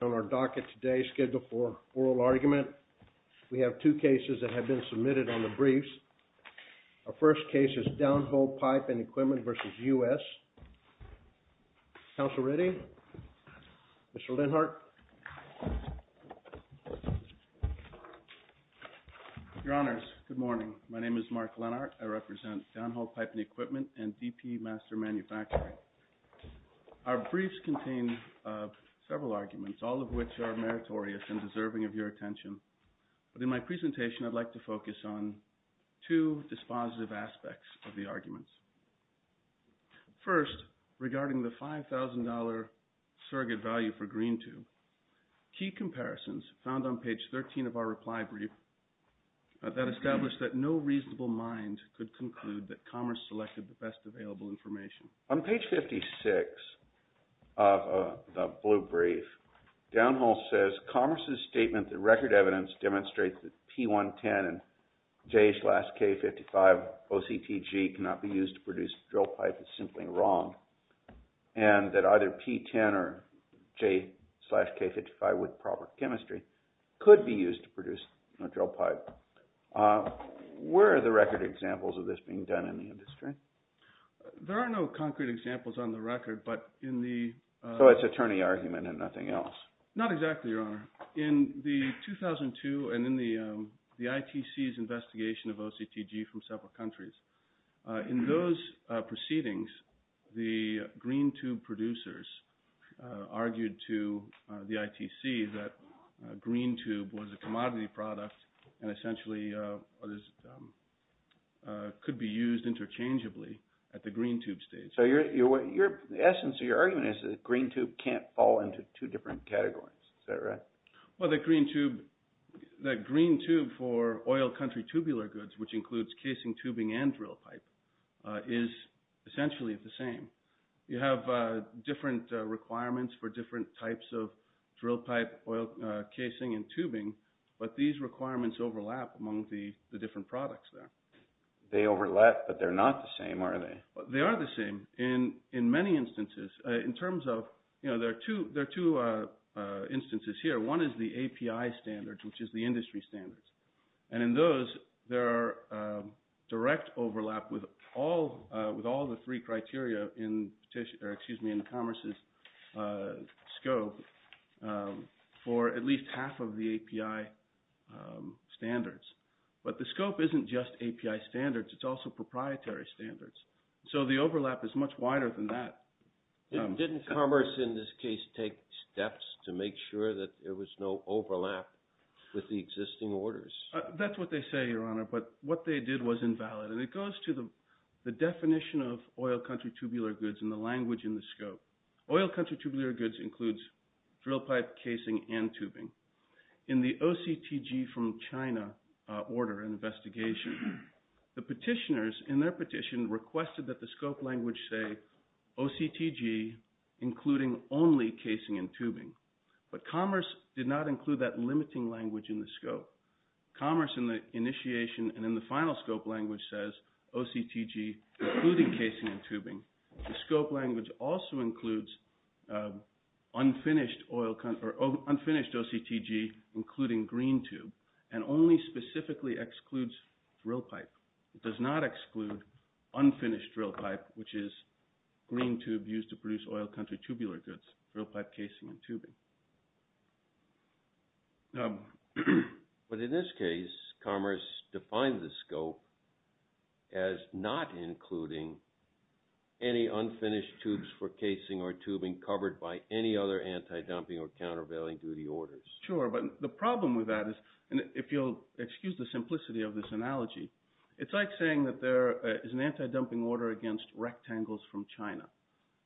On our docket today, Schedule IV Oral Argument, we have two cases that have been submitted on the briefs. Our first case is Downhole Pipe & Equipment v. U.S. Counsel Ready? Mr. Lenhart? Your Honors, good morning. My name is Mark Lenhart. I represent Downhole Pipe & Equipment and DP Master Manufacturing. Our briefs contain several arguments, all of which are meritorious and deserving of your attention. But in my presentation, I'd like to focus on two dispositive aspects of the arguments. First, regarding the $5,000 surrogate value for Green Tube, key comparisons found on page 13 of our reply brief that established that no reasonable mind could conclude that Commerce selected the best available information. On page 56 of the blue brief, Downhole says, Commerce's statement that record evidence demonstrates that P110 and J slash K55 OCTG cannot be used to produce drill pipe is simply wrong and that either P10 or J slash K55 with proper chemistry could be used to produce a drill pipe. Where are the record examples of this being done in the industry? There are no concrete examples on the record, but in the – So it's attorney argument and nothing else? Not exactly, Your Honor. In the 2002 and in the ITC's investigation of OCTG from several countries, in those proceedings, the Green Tube producers argued to the ITC that Green Tube was a commodity product and essentially could be used interchangeably at the Green Tube stage. So the essence of your argument is that Green Tube can't fall into two different categories. Is that right? Well, the Green Tube for oil country tubular goods, which includes casing tubing and drill pipe, is essentially the same. You have different requirements for different types of drill pipe oil casing and tubing, but these requirements overlap among the different products there. They overlap, but they're not the same, are they? They are the same in many instances. In terms of – there are two instances here. One is the API standards, which is the industry standards. And in those, there are direct overlap with all the three criteria in the Commerce's scope for at least half of the API standards. But the scope isn't just API standards. It's also proprietary standards. So the overlap is much wider than that. Didn't Commerce in this case take steps to make sure that there was no overlap with the existing orders? That's what they say, Your Honor, but what they did was invalid. And it goes to the definition of oil country tubular goods and the language in the scope. Oil country tubular goods includes drill pipe, casing, and tubing. In the OCTG from China order and investigation, the petitioners in their petition requested that the scope language say OCTG including only casing and tubing. But Commerce did not include that limiting language in the scope. Commerce in the initiation and in the final scope language says OCTG including casing and tubing. The scope language also includes unfinished OCTG including green tube and only specifically excludes drill pipe. It does not exclude unfinished drill pipe, which is green tube used to produce oil country tubular goods, drill pipe, casing, and tubing. But in this case, Commerce defined the scope as not including any unfinished tubes for casing or tubing covered by any other anti-dumping or countervailing duty orders. Sure, but the problem with that is, and if you'll excuse the simplicity of this analogy, it's like saying that there is an anti-dumping order against rectangles from China.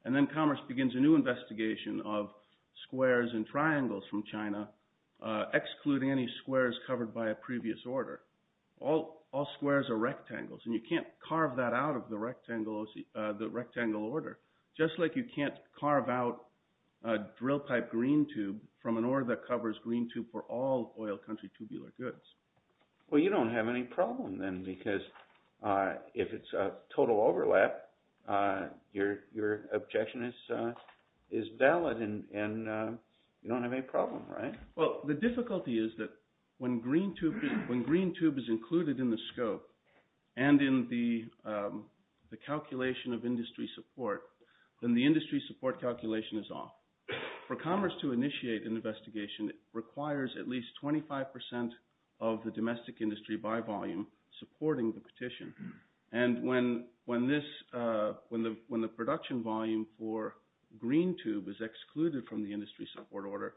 And then Commerce begins a new investigation of squares and triangles from China, excluding any squares covered by a previous order. All squares are rectangles, and you can't carve that out of the rectangle order, just like you can't carve out a drill pipe green tube from an order that covers green tube for all oil country tubular goods. Well, you don't have any problem then because if it's a total overlap, your objection is valid and you don't have any problem, right? Well, the difficulty is that when green tube is included in the scope and in the calculation of industry support, then the industry support calculation is off. For Commerce to initiate an investigation, it requires at least 25% of the domestic industry by volume supporting the petition. And when the production volume for green tube is excluded from the industry support order,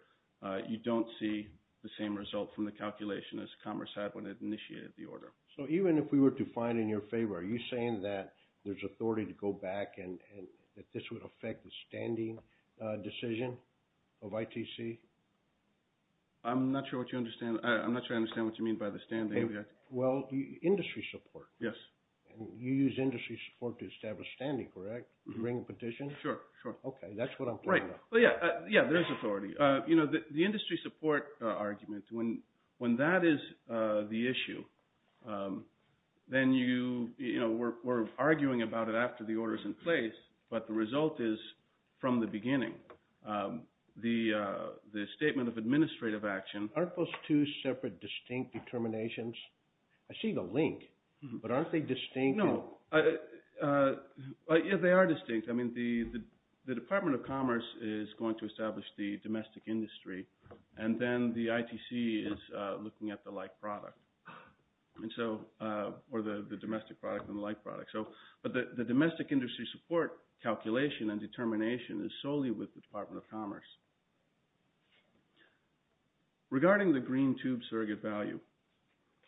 you don't see the same result from the calculation as Commerce had when it initiated the order. So even if we were to find in your favor, are you saying that there's authority to go back and that this would affect the standing decision of ITC? I'm not sure what you understand. I'm not sure I understand what you mean by the standing. Well, industry support. Yes. You use industry support to establish standing, correct? You bring a petition? Sure, sure. Okay, that's what I'm talking about. Yeah, there's authority. The industry support argument, when that is the issue, then we're arguing about it after the order is in place, but the result is from the beginning. The statement of administrative action. Aren't those two separate distinct determinations? I see the link, but aren't they distinct? No, they are distinct. I mean the Department of Commerce is going to establish the domestic industry, and then the ITC is looking at the like product, or the domestic product and the like product. But the domestic industry support calculation and determination is solely with the Department of Commerce. Regarding the green tube surrogate value,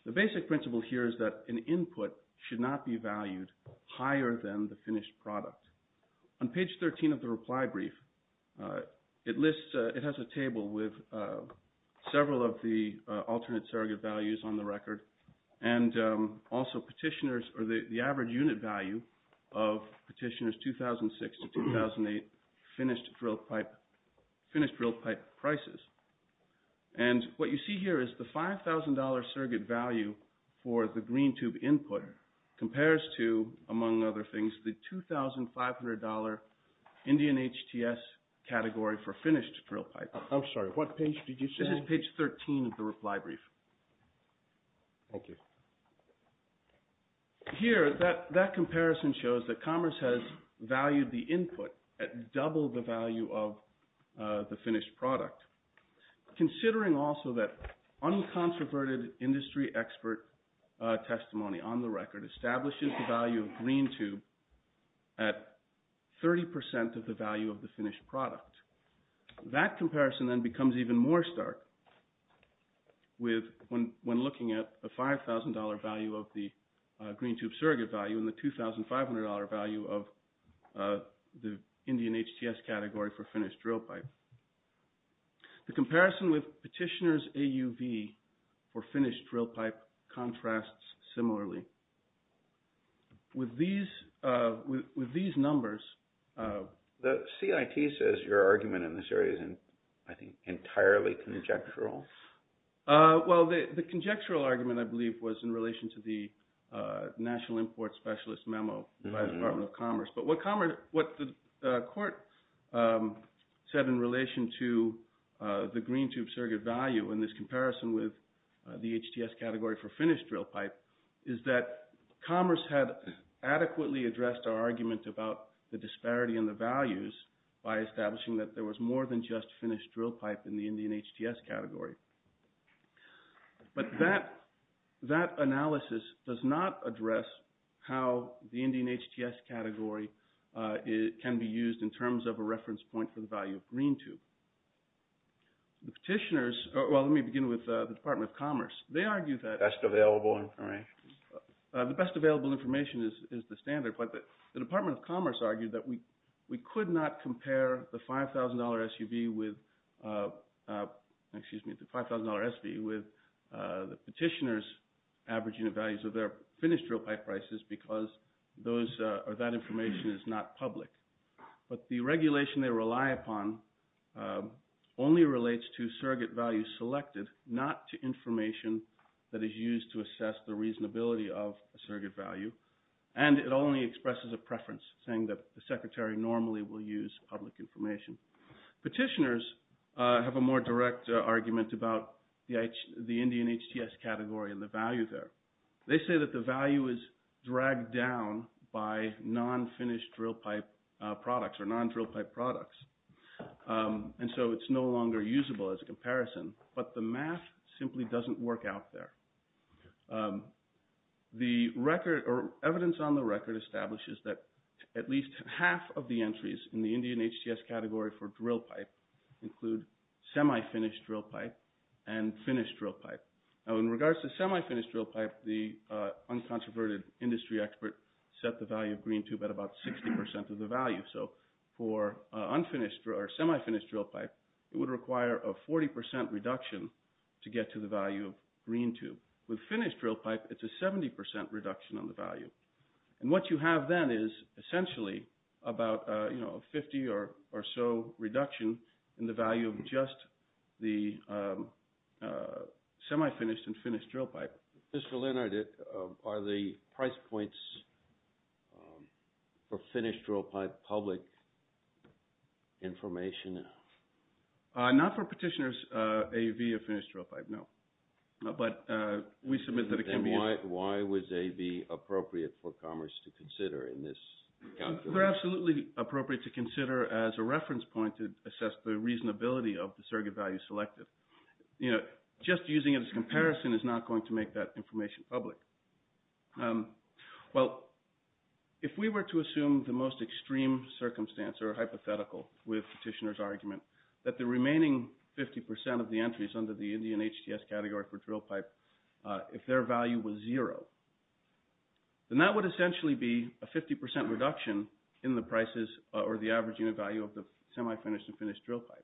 the basic principle here is that an input should not be valued higher than the finished product. On page 13 of the reply brief, it lists, it has a table with several of the alternate surrogate values on the record, and also petitioners, or the average unit value of petitioners 2006 to 2008 finished drill pipe prices. And what you see here is the $5,000 surrogate value for the green tube input compares to, among other things, the $2,500 Indian HTS category for finished drill pipe. I'm sorry, what page did you say? This is page 13 of the reply brief. Okay. Here, that comparison shows that Commerce has valued the input at double the value of the finished product, considering also that uncontroverted industry expert testimony on the record establishes the value of green tube at 30 percent of the value of the finished product. That comparison then becomes even more stark when looking at the $5,000 value of the green tube surrogate value and the $2,500 value of the Indian HTS category for finished drill pipe. The comparison with petitioners AUV for finished drill pipe contrasts similarly. With these numbers… The CIT says your argument in this area is, I think, entirely conjectural. Well, the conjectural argument, I believe, was in relation to the National Import Specialist memo by the Department of Commerce. But what the court said in relation to the green tube surrogate value in this comparison with the HTS category for finished drill pipe is that Commerce had adequately addressed our argument about the disparity in the values by establishing that there was more than just finished drill pipe in the Indian HTS category. But that analysis does not address how the Indian HTS category can be used in terms of a reference point for the value of green tube. The petitioners – well, let me begin with the Department of Commerce. They argue that… Best available information. The best available information is the standard, but the Department of Commerce argued that we could not compare the $5,000 SUV with – excuse me, the $5,000 SUV with the petitioners' average unit values of their finished drill pipe prices because that information is not public. But the regulation they rely upon only relates to surrogate value selected, not to information that is used to assess the reasonability of a surrogate value. And it only expresses a preference, saying that the Secretary normally will use public information. Petitioners have a more direct argument about the Indian HTS category and the value there. They say that the value is dragged down by non-finished drill pipe products or non-drill pipe products, and so it's no longer usable as a comparison. But the math simply doesn't work out there. The record – or evidence on the record establishes that at least half of the entries in the Indian HTS category for drill pipe include semi-finished drill pipe and finished drill pipe. Now, in regards to semi-finished drill pipe, the uncontroverted industry expert set the value of green tube at about 60% of the value. So for unfinished or semi-finished drill pipe, it would require a 40% reduction to get to the value of green tube. With finished drill pipe, it's a 70% reduction on the value. And what you have then is essentially about a 50 or so reduction in the value of just the semi-finished and finished drill pipe. Mr. Leonard, are the price points for finished drill pipe public information? Not for petitioners' AV of finished drill pipe, no. Then why was AV appropriate for Commerce to consider in this calculation? They're absolutely appropriate to consider as a reference point to assess the reasonability of the surrogate value selected. Just using it as a comparison is not going to make that information public. Well, if we were to assume the most extreme circumstance or hypothetical with petitioner's argument that the remaining 50% of the entries under the Indian HTS category for drill pipe, if their value was zero, then that would essentially be a 50% reduction in the prices or the average unit value of the semi-finished and finished drill pipe.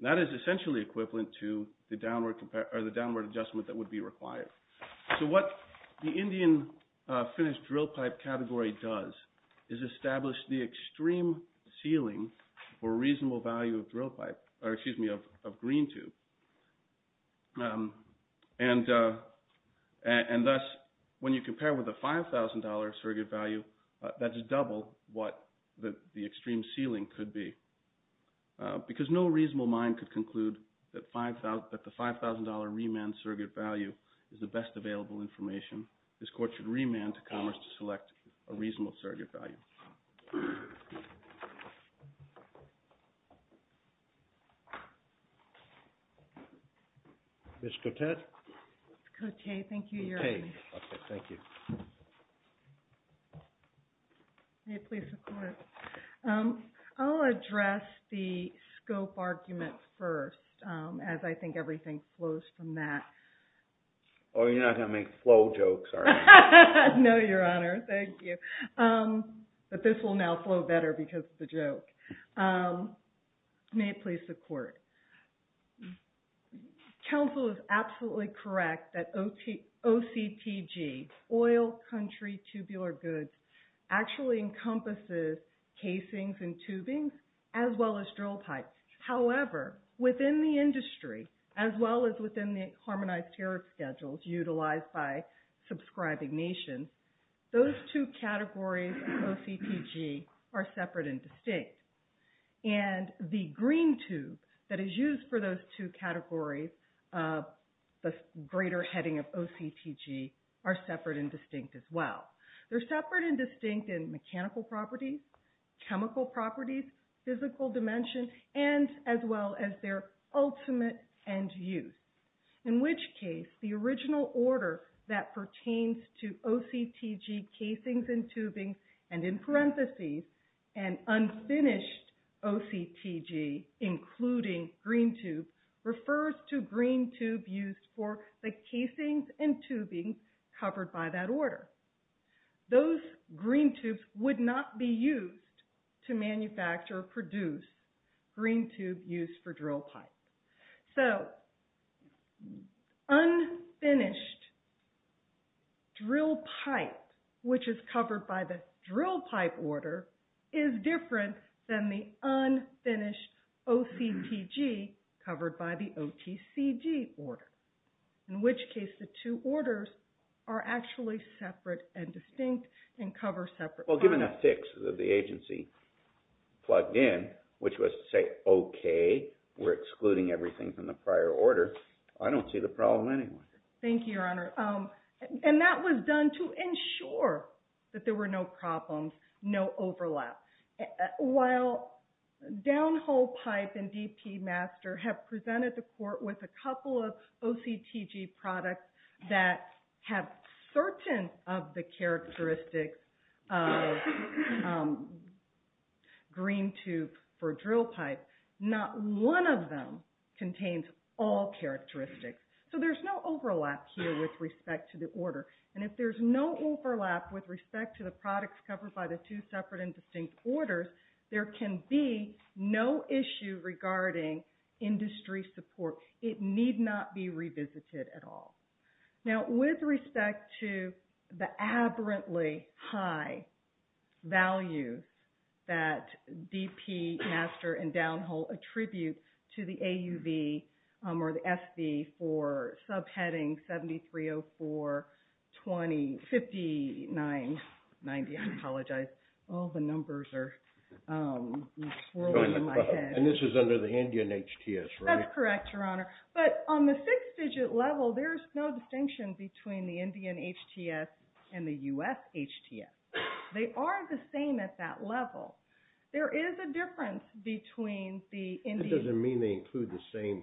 That is essentially equivalent to the downward adjustment that would be required. So what the Indian finished drill pipe category does is establish the extreme ceiling or reasonable value of green tube. And thus, when you compare with the $5,000 surrogate value, that's double what the extreme ceiling could be. Because no reasonable mind could conclude that the $5,000 remand surrogate value is the best available information, this Court should remand to Commerce to select a reasonable surrogate value. Ms. Cotet? Ms. Cotet, thank you. You're okay. Okay, thank you. May it please the Court. I'll address the scope argument first, as I think everything flows from that. Oh, you're not going to make flow jokes, are you? No, Your Honor. Thank you. But this will now flow better because of the joke. May it please the Court. Counsel is absolutely correct that OCTG, oil, country, tubular goods, actually encompasses casings and tubings, as well as drill pipes. However, within the industry, as well as within the harmonized tariff schedules utilized by subscribing nations, those two categories of OCTG are separate and distinct. And the green tube that is used for those two categories, the greater heading of OCTG, are separate and distinct as well. They're separate and distinct in mechanical properties, chemical properties, physical dimension, and as well as their ultimate end use. In which case, the original order that pertains to OCTG casings and tubing, and in parentheses, an unfinished OCTG, including green tube, refers to green tube used for the casings and tubing covered by that order. Those green tubes would not be used to manufacture or produce green tube used for drill pipes. So, unfinished drill pipe, which is covered by the drill pipe order, is different than the unfinished OCTG covered by the OTCG order. In which case, the two orders are actually separate and distinct and cover separate products. Well, given the fix that the agency plugged in, which was to say, okay, we're excluding everything from the prior order, I don't see the problem anyway. Thank you, Your Honor. And that was done to ensure that there were no problems, no overlap. While Downhole Pipe and DP Master have presented the court with a couple of OCTG products that have certain of the characteristics of green tube for drill pipes, not one of them contains all characteristics. So, there's no overlap here with respect to the order. And if there's no overlap with respect to the products covered by the two separate and distinct orders, there can be no issue regarding industry support. It need not be revisited at all. Now, with respect to the aberrantly high value that DP Master and Downhole attribute to the AUV or the SV for subheading 7304-5990, I apologize. All the numbers are swirling in my head. And this is under the Indian HTS, right? You're correct, Your Honor. But on the six-digit level, there's no distinction between the Indian HTS and the U.S. HTS. They are the same at that level. There is a difference between the Indian... That doesn't mean they include the same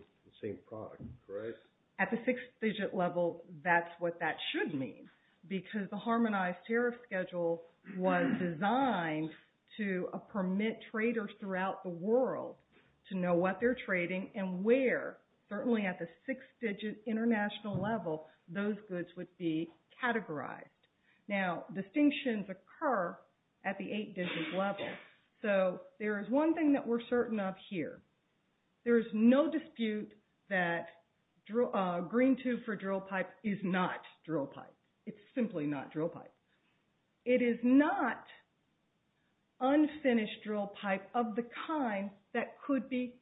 product, correct? At the six-digit level, that's what that should mean. Because the Harmonized Tariff Schedule was designed to permit traders throughout the world to know what they're trading and where, certainly at the six-digit international level, those goods would be categorized. Now, distinctions occur at the eight-digit level. So, there is one thing that we're certain of here. There is no dispute that green tube for drill pipe is not drill pipe. It's simply not drill pipe. It is not unfinished drill pipe of the kind that could be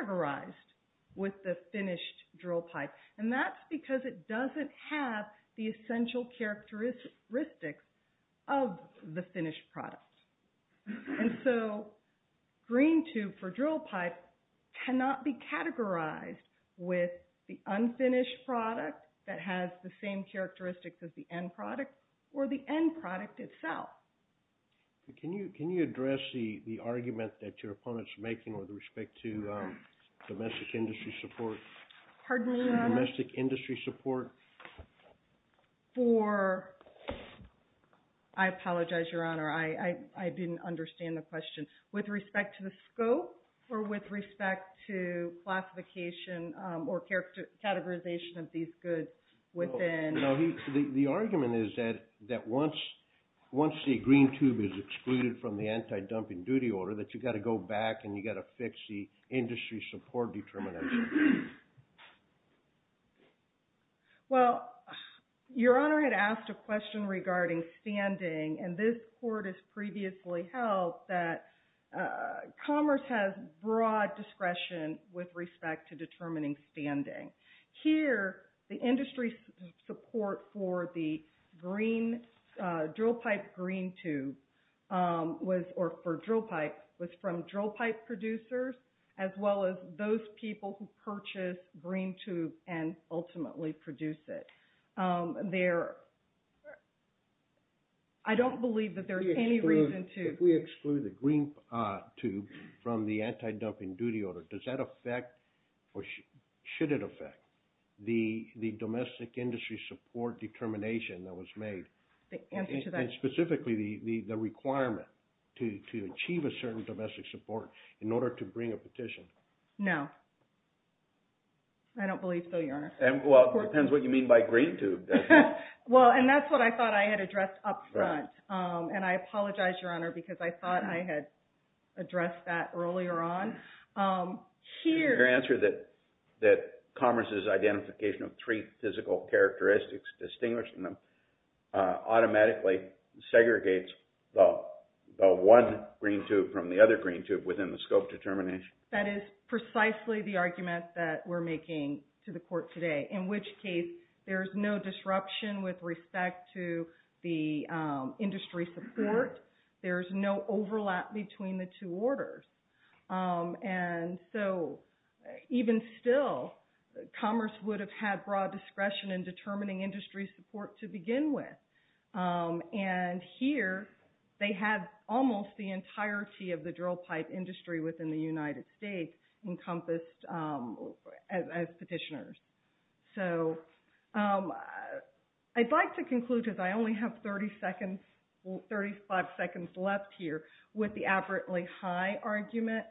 categorized with the finished drill pipe. And that's because it doesn't have the essential characteristics of the finished product. And so, green tube for drill pipe cannot be categorized with the unfinished product that has the same characteristics as the end product or the end product itself. Can you address the argument that your opponent is making with respect to domestic industry support? Pardon me, Your Honor? Domestic industry support? For... I apologize, Your Honor. I didn't understand the question. With respect to the scope or with respect to classification or categorization of these goods within... The argument is that once the green tube is excluded from the anti-dumping duty order, that you've got to go back and you've got to fix the industry support determinants. Well, Your Honor had asked a question regarding standing, and this court has previously held that commerce has broad discretion with respect to determining standing. Here, the industry support for the green, drill pipe green tube was, or for drill pipe, was from drill pipe producers as well as those people who purchase green tube and ultimately produce it. There... I don't believe that there's any reason to... The green tube from the anti-dumping duty order, does that affect or should it affect the domestic industry support determination that was made? The answer to that... And specifically, the requirement to achieve a certain domestic support in order to bring a petition? No. I don't believe so, Your Honor. Well, it depends what you mean by green tube. Well, and that's what I thought I had addressed up front, and I apologize, Your Honor, because I thought I had addressed that earlier on. Here... Your answer that commerce's identification of three physical characteristics, distinguishing them, automatically segregates the one green tube from the other green tube within the scope determination? That is precisely the argument that we're making to the court today, in which case, there's no disruption with respect to the industry support. There's no overlap between the two orders. And so, even still, commerce would have had broad discretion in determining industry support to begin with. And here, they have almost the entirety of the drill pipe industry within the United States encompassed as petitioners. So, I'd like to conclude, because I only have 30 seconds, 35 seconds left here, with the apparently high argument.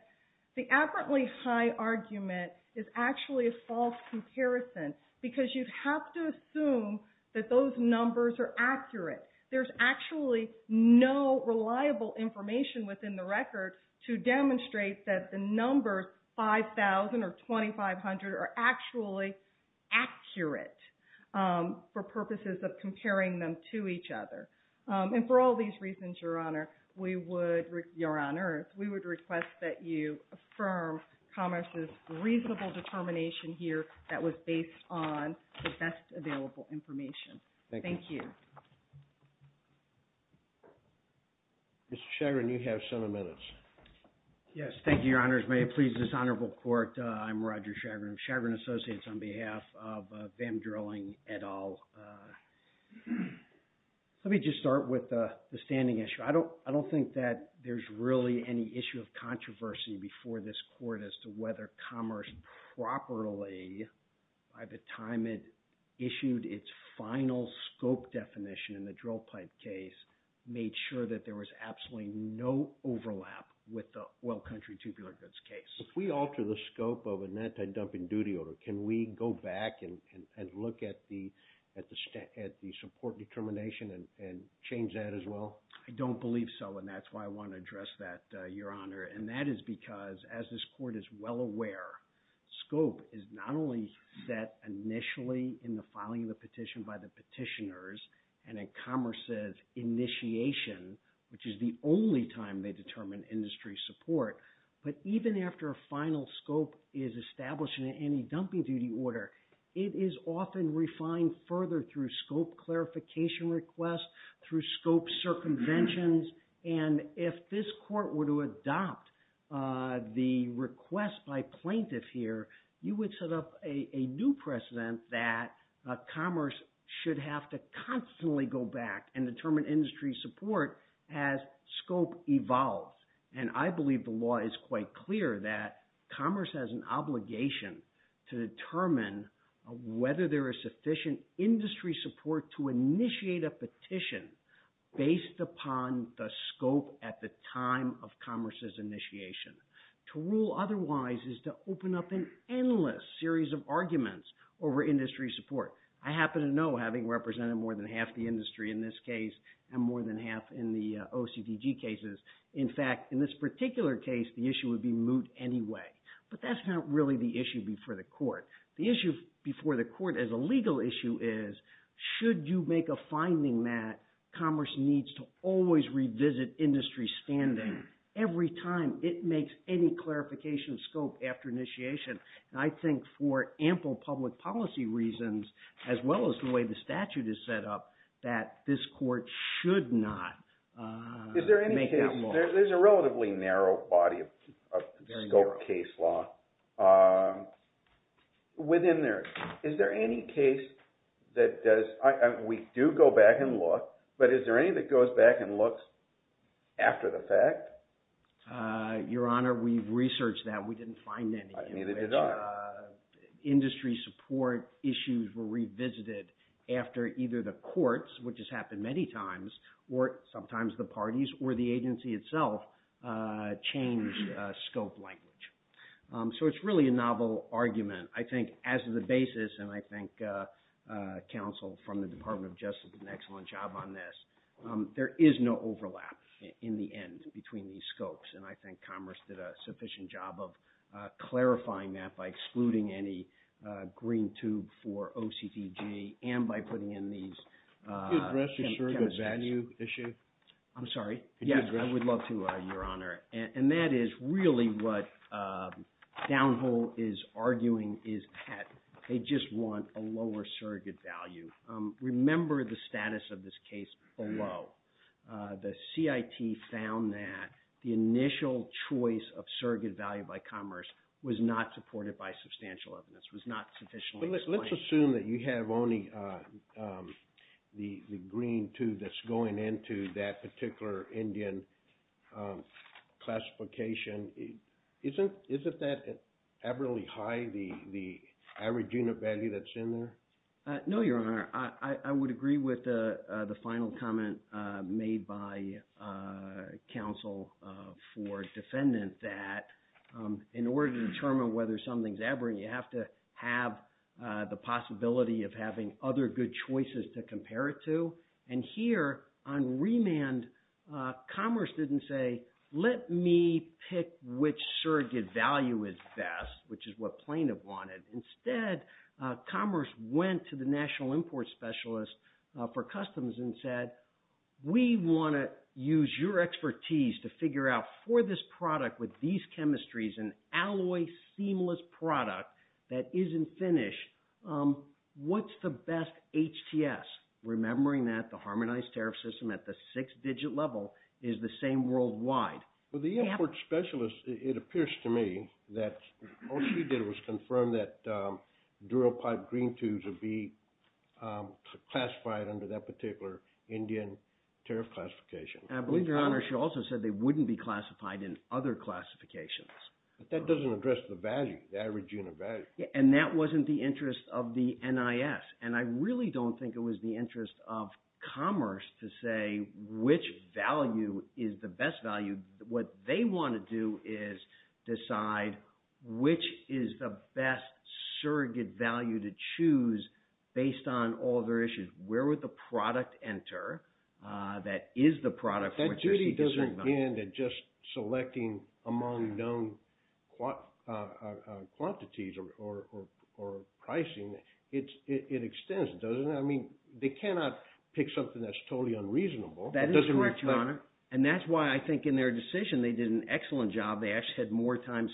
The apparently high argument is actually a false comparison, because you have to assume that those numbers are accurate. There's actually no reliable information within the record to demonstrate that the numbers 5,000 or 2,500 are actually accurate for purposes of comparing them to each other. And for all these reasons, Your Honor, we would... Your Honor, we would request that you affirm commerce's reasonable determination here that was based on the best available information. Thank you. Mr. Chagrin, you have seven minutes. Yes, thank you, Your Honors. May it please this honorable court, I'm Roger Chagrin of Chagrin Associates on behalf of Van Drilling et al. Let me just start with the standing issue. I don't think that there's really any issue of controversy before this court as to whether commerce properly, by the time it issued its final scope definition in the drill pipe case, made sure that there was absolutely no overlap with the oil country tubular goods case. If we alter the scope of an anti-dumping duty order, can we go back and look at the support determination and change that as well? I don't believe so, and that's why I want to address that, Your Honor. And that is because, as this court is well aware, scope is not only set initially in the filing of the petition by the petitioners and in commerce's initiation, which is the only time they determine industry support, but even after a final scope is established in an anti-dumping duty order, it is often refined further through scope clarification requests, through scope circumventions. And if this court were to adopt the request by plaintiff here, you would set up a new precedent that commerce should have to constantly go back and determine industry support as scope evolves. And I believe the law is quite clear that commerce has an obligation to determine whether there is sufficient industry support to initiate a petition based upon the scope at the time of commerce's initiation. To rule otherwise is to open up an endless series of arguments over industry support. I happen to know, having represented more than half the industry in this case and more than half in the OCDG cases, in fact, in this particular case, the issue would be moot anyway. But that's not really the issue before the court. The issue before the court as a legal issue is, should you make a finding that commerce needs to always revisit industry standing every time it makes any clarification of scope after initiation? And I think for ample public policy reasons, as well as the way the statute is set up, that this court should not make that motion. Is there any case – there's a relatively narrow body of scope case law within there. Is there any case that does – we do go back and look, but is there any that goes back and looks after the fact? Your Honor, we've researched that. We didn't find any. Neither did I. Industry support issues were revisited after either the courts, which has happened many times, or sometimes the parties or the agency itself changed scope language. So it's really a novel argument. I think as the basis, and I think counsel from the Department of Justice did an excellent job on this, there is no overlap in the end between these scopes. And I think commerce did a sufficient job of clarifying that by excluding any green tube for OCDG and by putting in these… Could you address the surrogate value issue? I'm sorry? Yes, I would love to, Your Honor. And that is really what Downhole is arguing, is that they just want a lower surrogate value. Remember the status of this case below. The CIT found that the initial choice of surrogate value by commerce was not supported by substantial evidence, was not sufficiently explained. Let's assume that you have only the green tube that's going into that particular Indian classification. Isn't that aberrantly high, the average unit value that's in there? No, Your Honor. I would agree with the final comment made by counsel for defendant that in order to determine whether something's aberrant, you have to have the possibility of having other good choices to compare it to. And here on remand, commerce didn't say, let me pick which surrogate value is best, which is what plaintiff wanted. Instead, commerce went to the national import specialist for customs and said, we want to use your expertise to figure out for this product with these chemistries, an alloy seamless product that isn't finished, what's the best HTS? Remembering that the harmonized tariff system at the six-digit level is the same worldwide. Well, the import specialist, it appears to me that all she did was confirm that dural pipe green tubes would be classified under that particular Indian tariff classification. I believe, Your Honor, she also said they wouldn't be classified in other classifications. But that doesn't address the value, the average unit value. And that wasn't the interest of the NIS. And I really don't think it was the interest of commerce to say which value is the best value. What they want to do is decide which is the best surrogate value to choose based on all their issues. That duty doesn't end at just selecting among known quantities or pricing. It extends, doesn't it? I mean, they cannot pick something that's totally unreasonable. That is correct, Your Honor. And that's why I think in their decision they did an excellent job. They actually had more times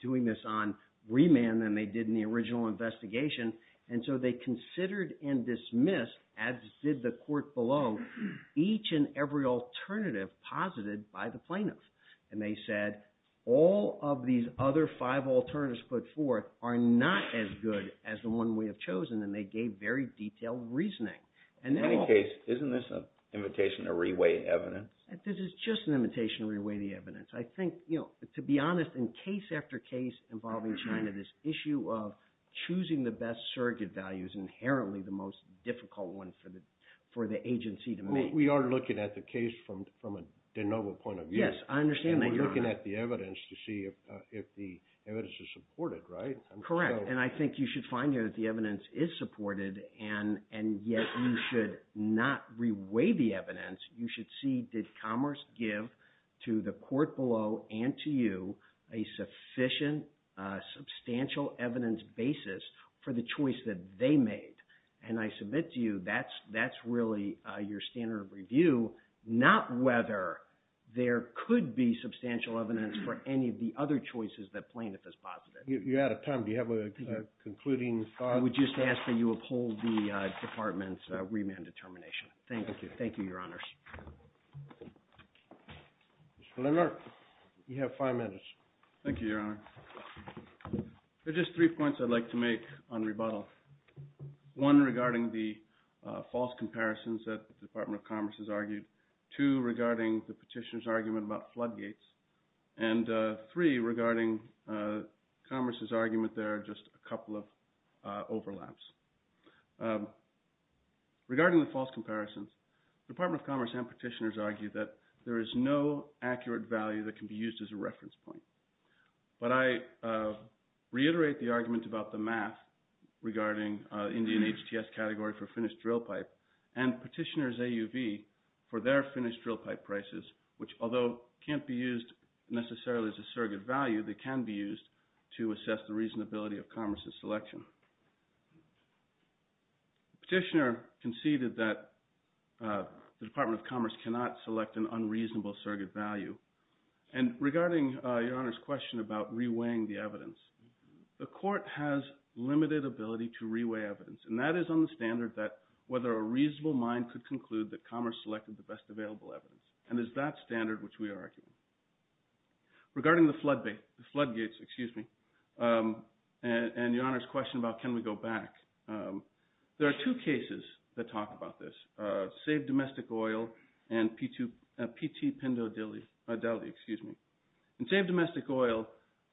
doing this on remand than they did in the original investigation. And so they considered and dismissed, as did the court below, each and every alternative posited by the plaintiffs. And they said all of these other five alternatives put forth are not as good as the one we have chosen. And they gave very detailed reasoning. In any case, isn't this an invitation to reweigh evidence? This is just an invitation to reweigh the evidence. I think, to be honest, in case after case involving China, this issue of choosing the best surrogate value is inherently the most difficult one for the agency to make. We are looking at the case from a de novo point of view. Yes, I understand that, Your Honor. And we're looking at the evidence to see if the evidence is supported, right? Correct. And I think you should find here that the evidence is supported, and yet you should not reweigh the evidence. You should see did Commerce give to the court below and to you a sufficient, substantial evidence basis for the choice that they made. And I submit to you that's really your standard of review, not whether there could be substantial evidence for any of the other choices that plaintiff has posited. You're out of time. Do you have a concluding thought? I would just ask that you uphold the Department's remand determination. Thank you. Thank you, Your Honors. Mr. Lindner, you have five minutes. Thank you, Your Honor. There are just three points I'd like to make on rebuttal. One, regarding the false comparisons that the Department of Commerce has argued. Two, regarding the petitioner's argument about floodgates. And three, regarding Commerce's argument there are just a couple of overlaps. Regarding the false comparisons, the Department of Commerce and petitioners argue that there is no accurate value that can be used as a reference point. But I reiterate the argument about the math regarding Indian HTS category for finished drill pipe and petitioner's AUV for their finished drill pipe prices, which although can't be used necessarily as a surrogate value, they can be used to assess the reasonability of Commerce's selection. Petitioner conceded that the Department of Commerce cannot select an unreasonable surrogate value. And regarding Your Honor's question about reweighing the evidence, the court has limited ability to reweigh evidence. And that is on the standard that whether a reasonable mind could conclude that Commerce selected the best available evidence. And it's that standard which we argue. Regarding the floodgates, excuse me, and Your Honor's question about can we go back, there are two cases that talk about this. SAVE Domestic Oil and PT Pindodeli. In SAVE Domestic Oil,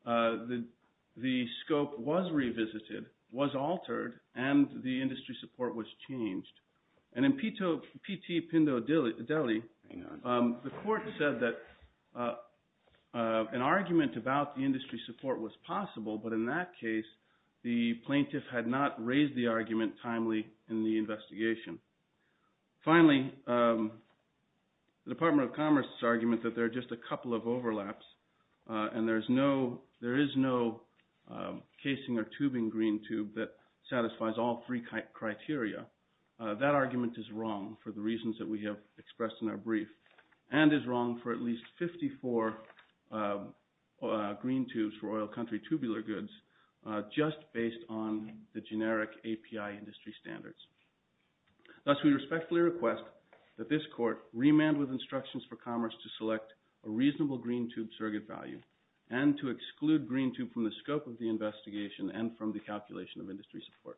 the scope was revisited, was altered, and the industry support was changed. And in PT Pindodeli, the court said that an argument about the industry support was possible, but in that case, the plaintiff had not raised the argument timely in the investigation. Finally, the Department of Commerce's argument that there are just a couple of overlaps and there is no casing or tubing green tube that satisfies all three criteria, that argument is wrong for the reasons that we have expressed in our brief and is wrong for at least 54 green tubes for oil country tubular goods just based on the generic API industry standards. Thus, we respectfully request that this court remand with instructions for Commerce to select a reasonable green tube surrogate value and to exclude green tube from the scope of the investigation and from the calculation of industry support. Thank you.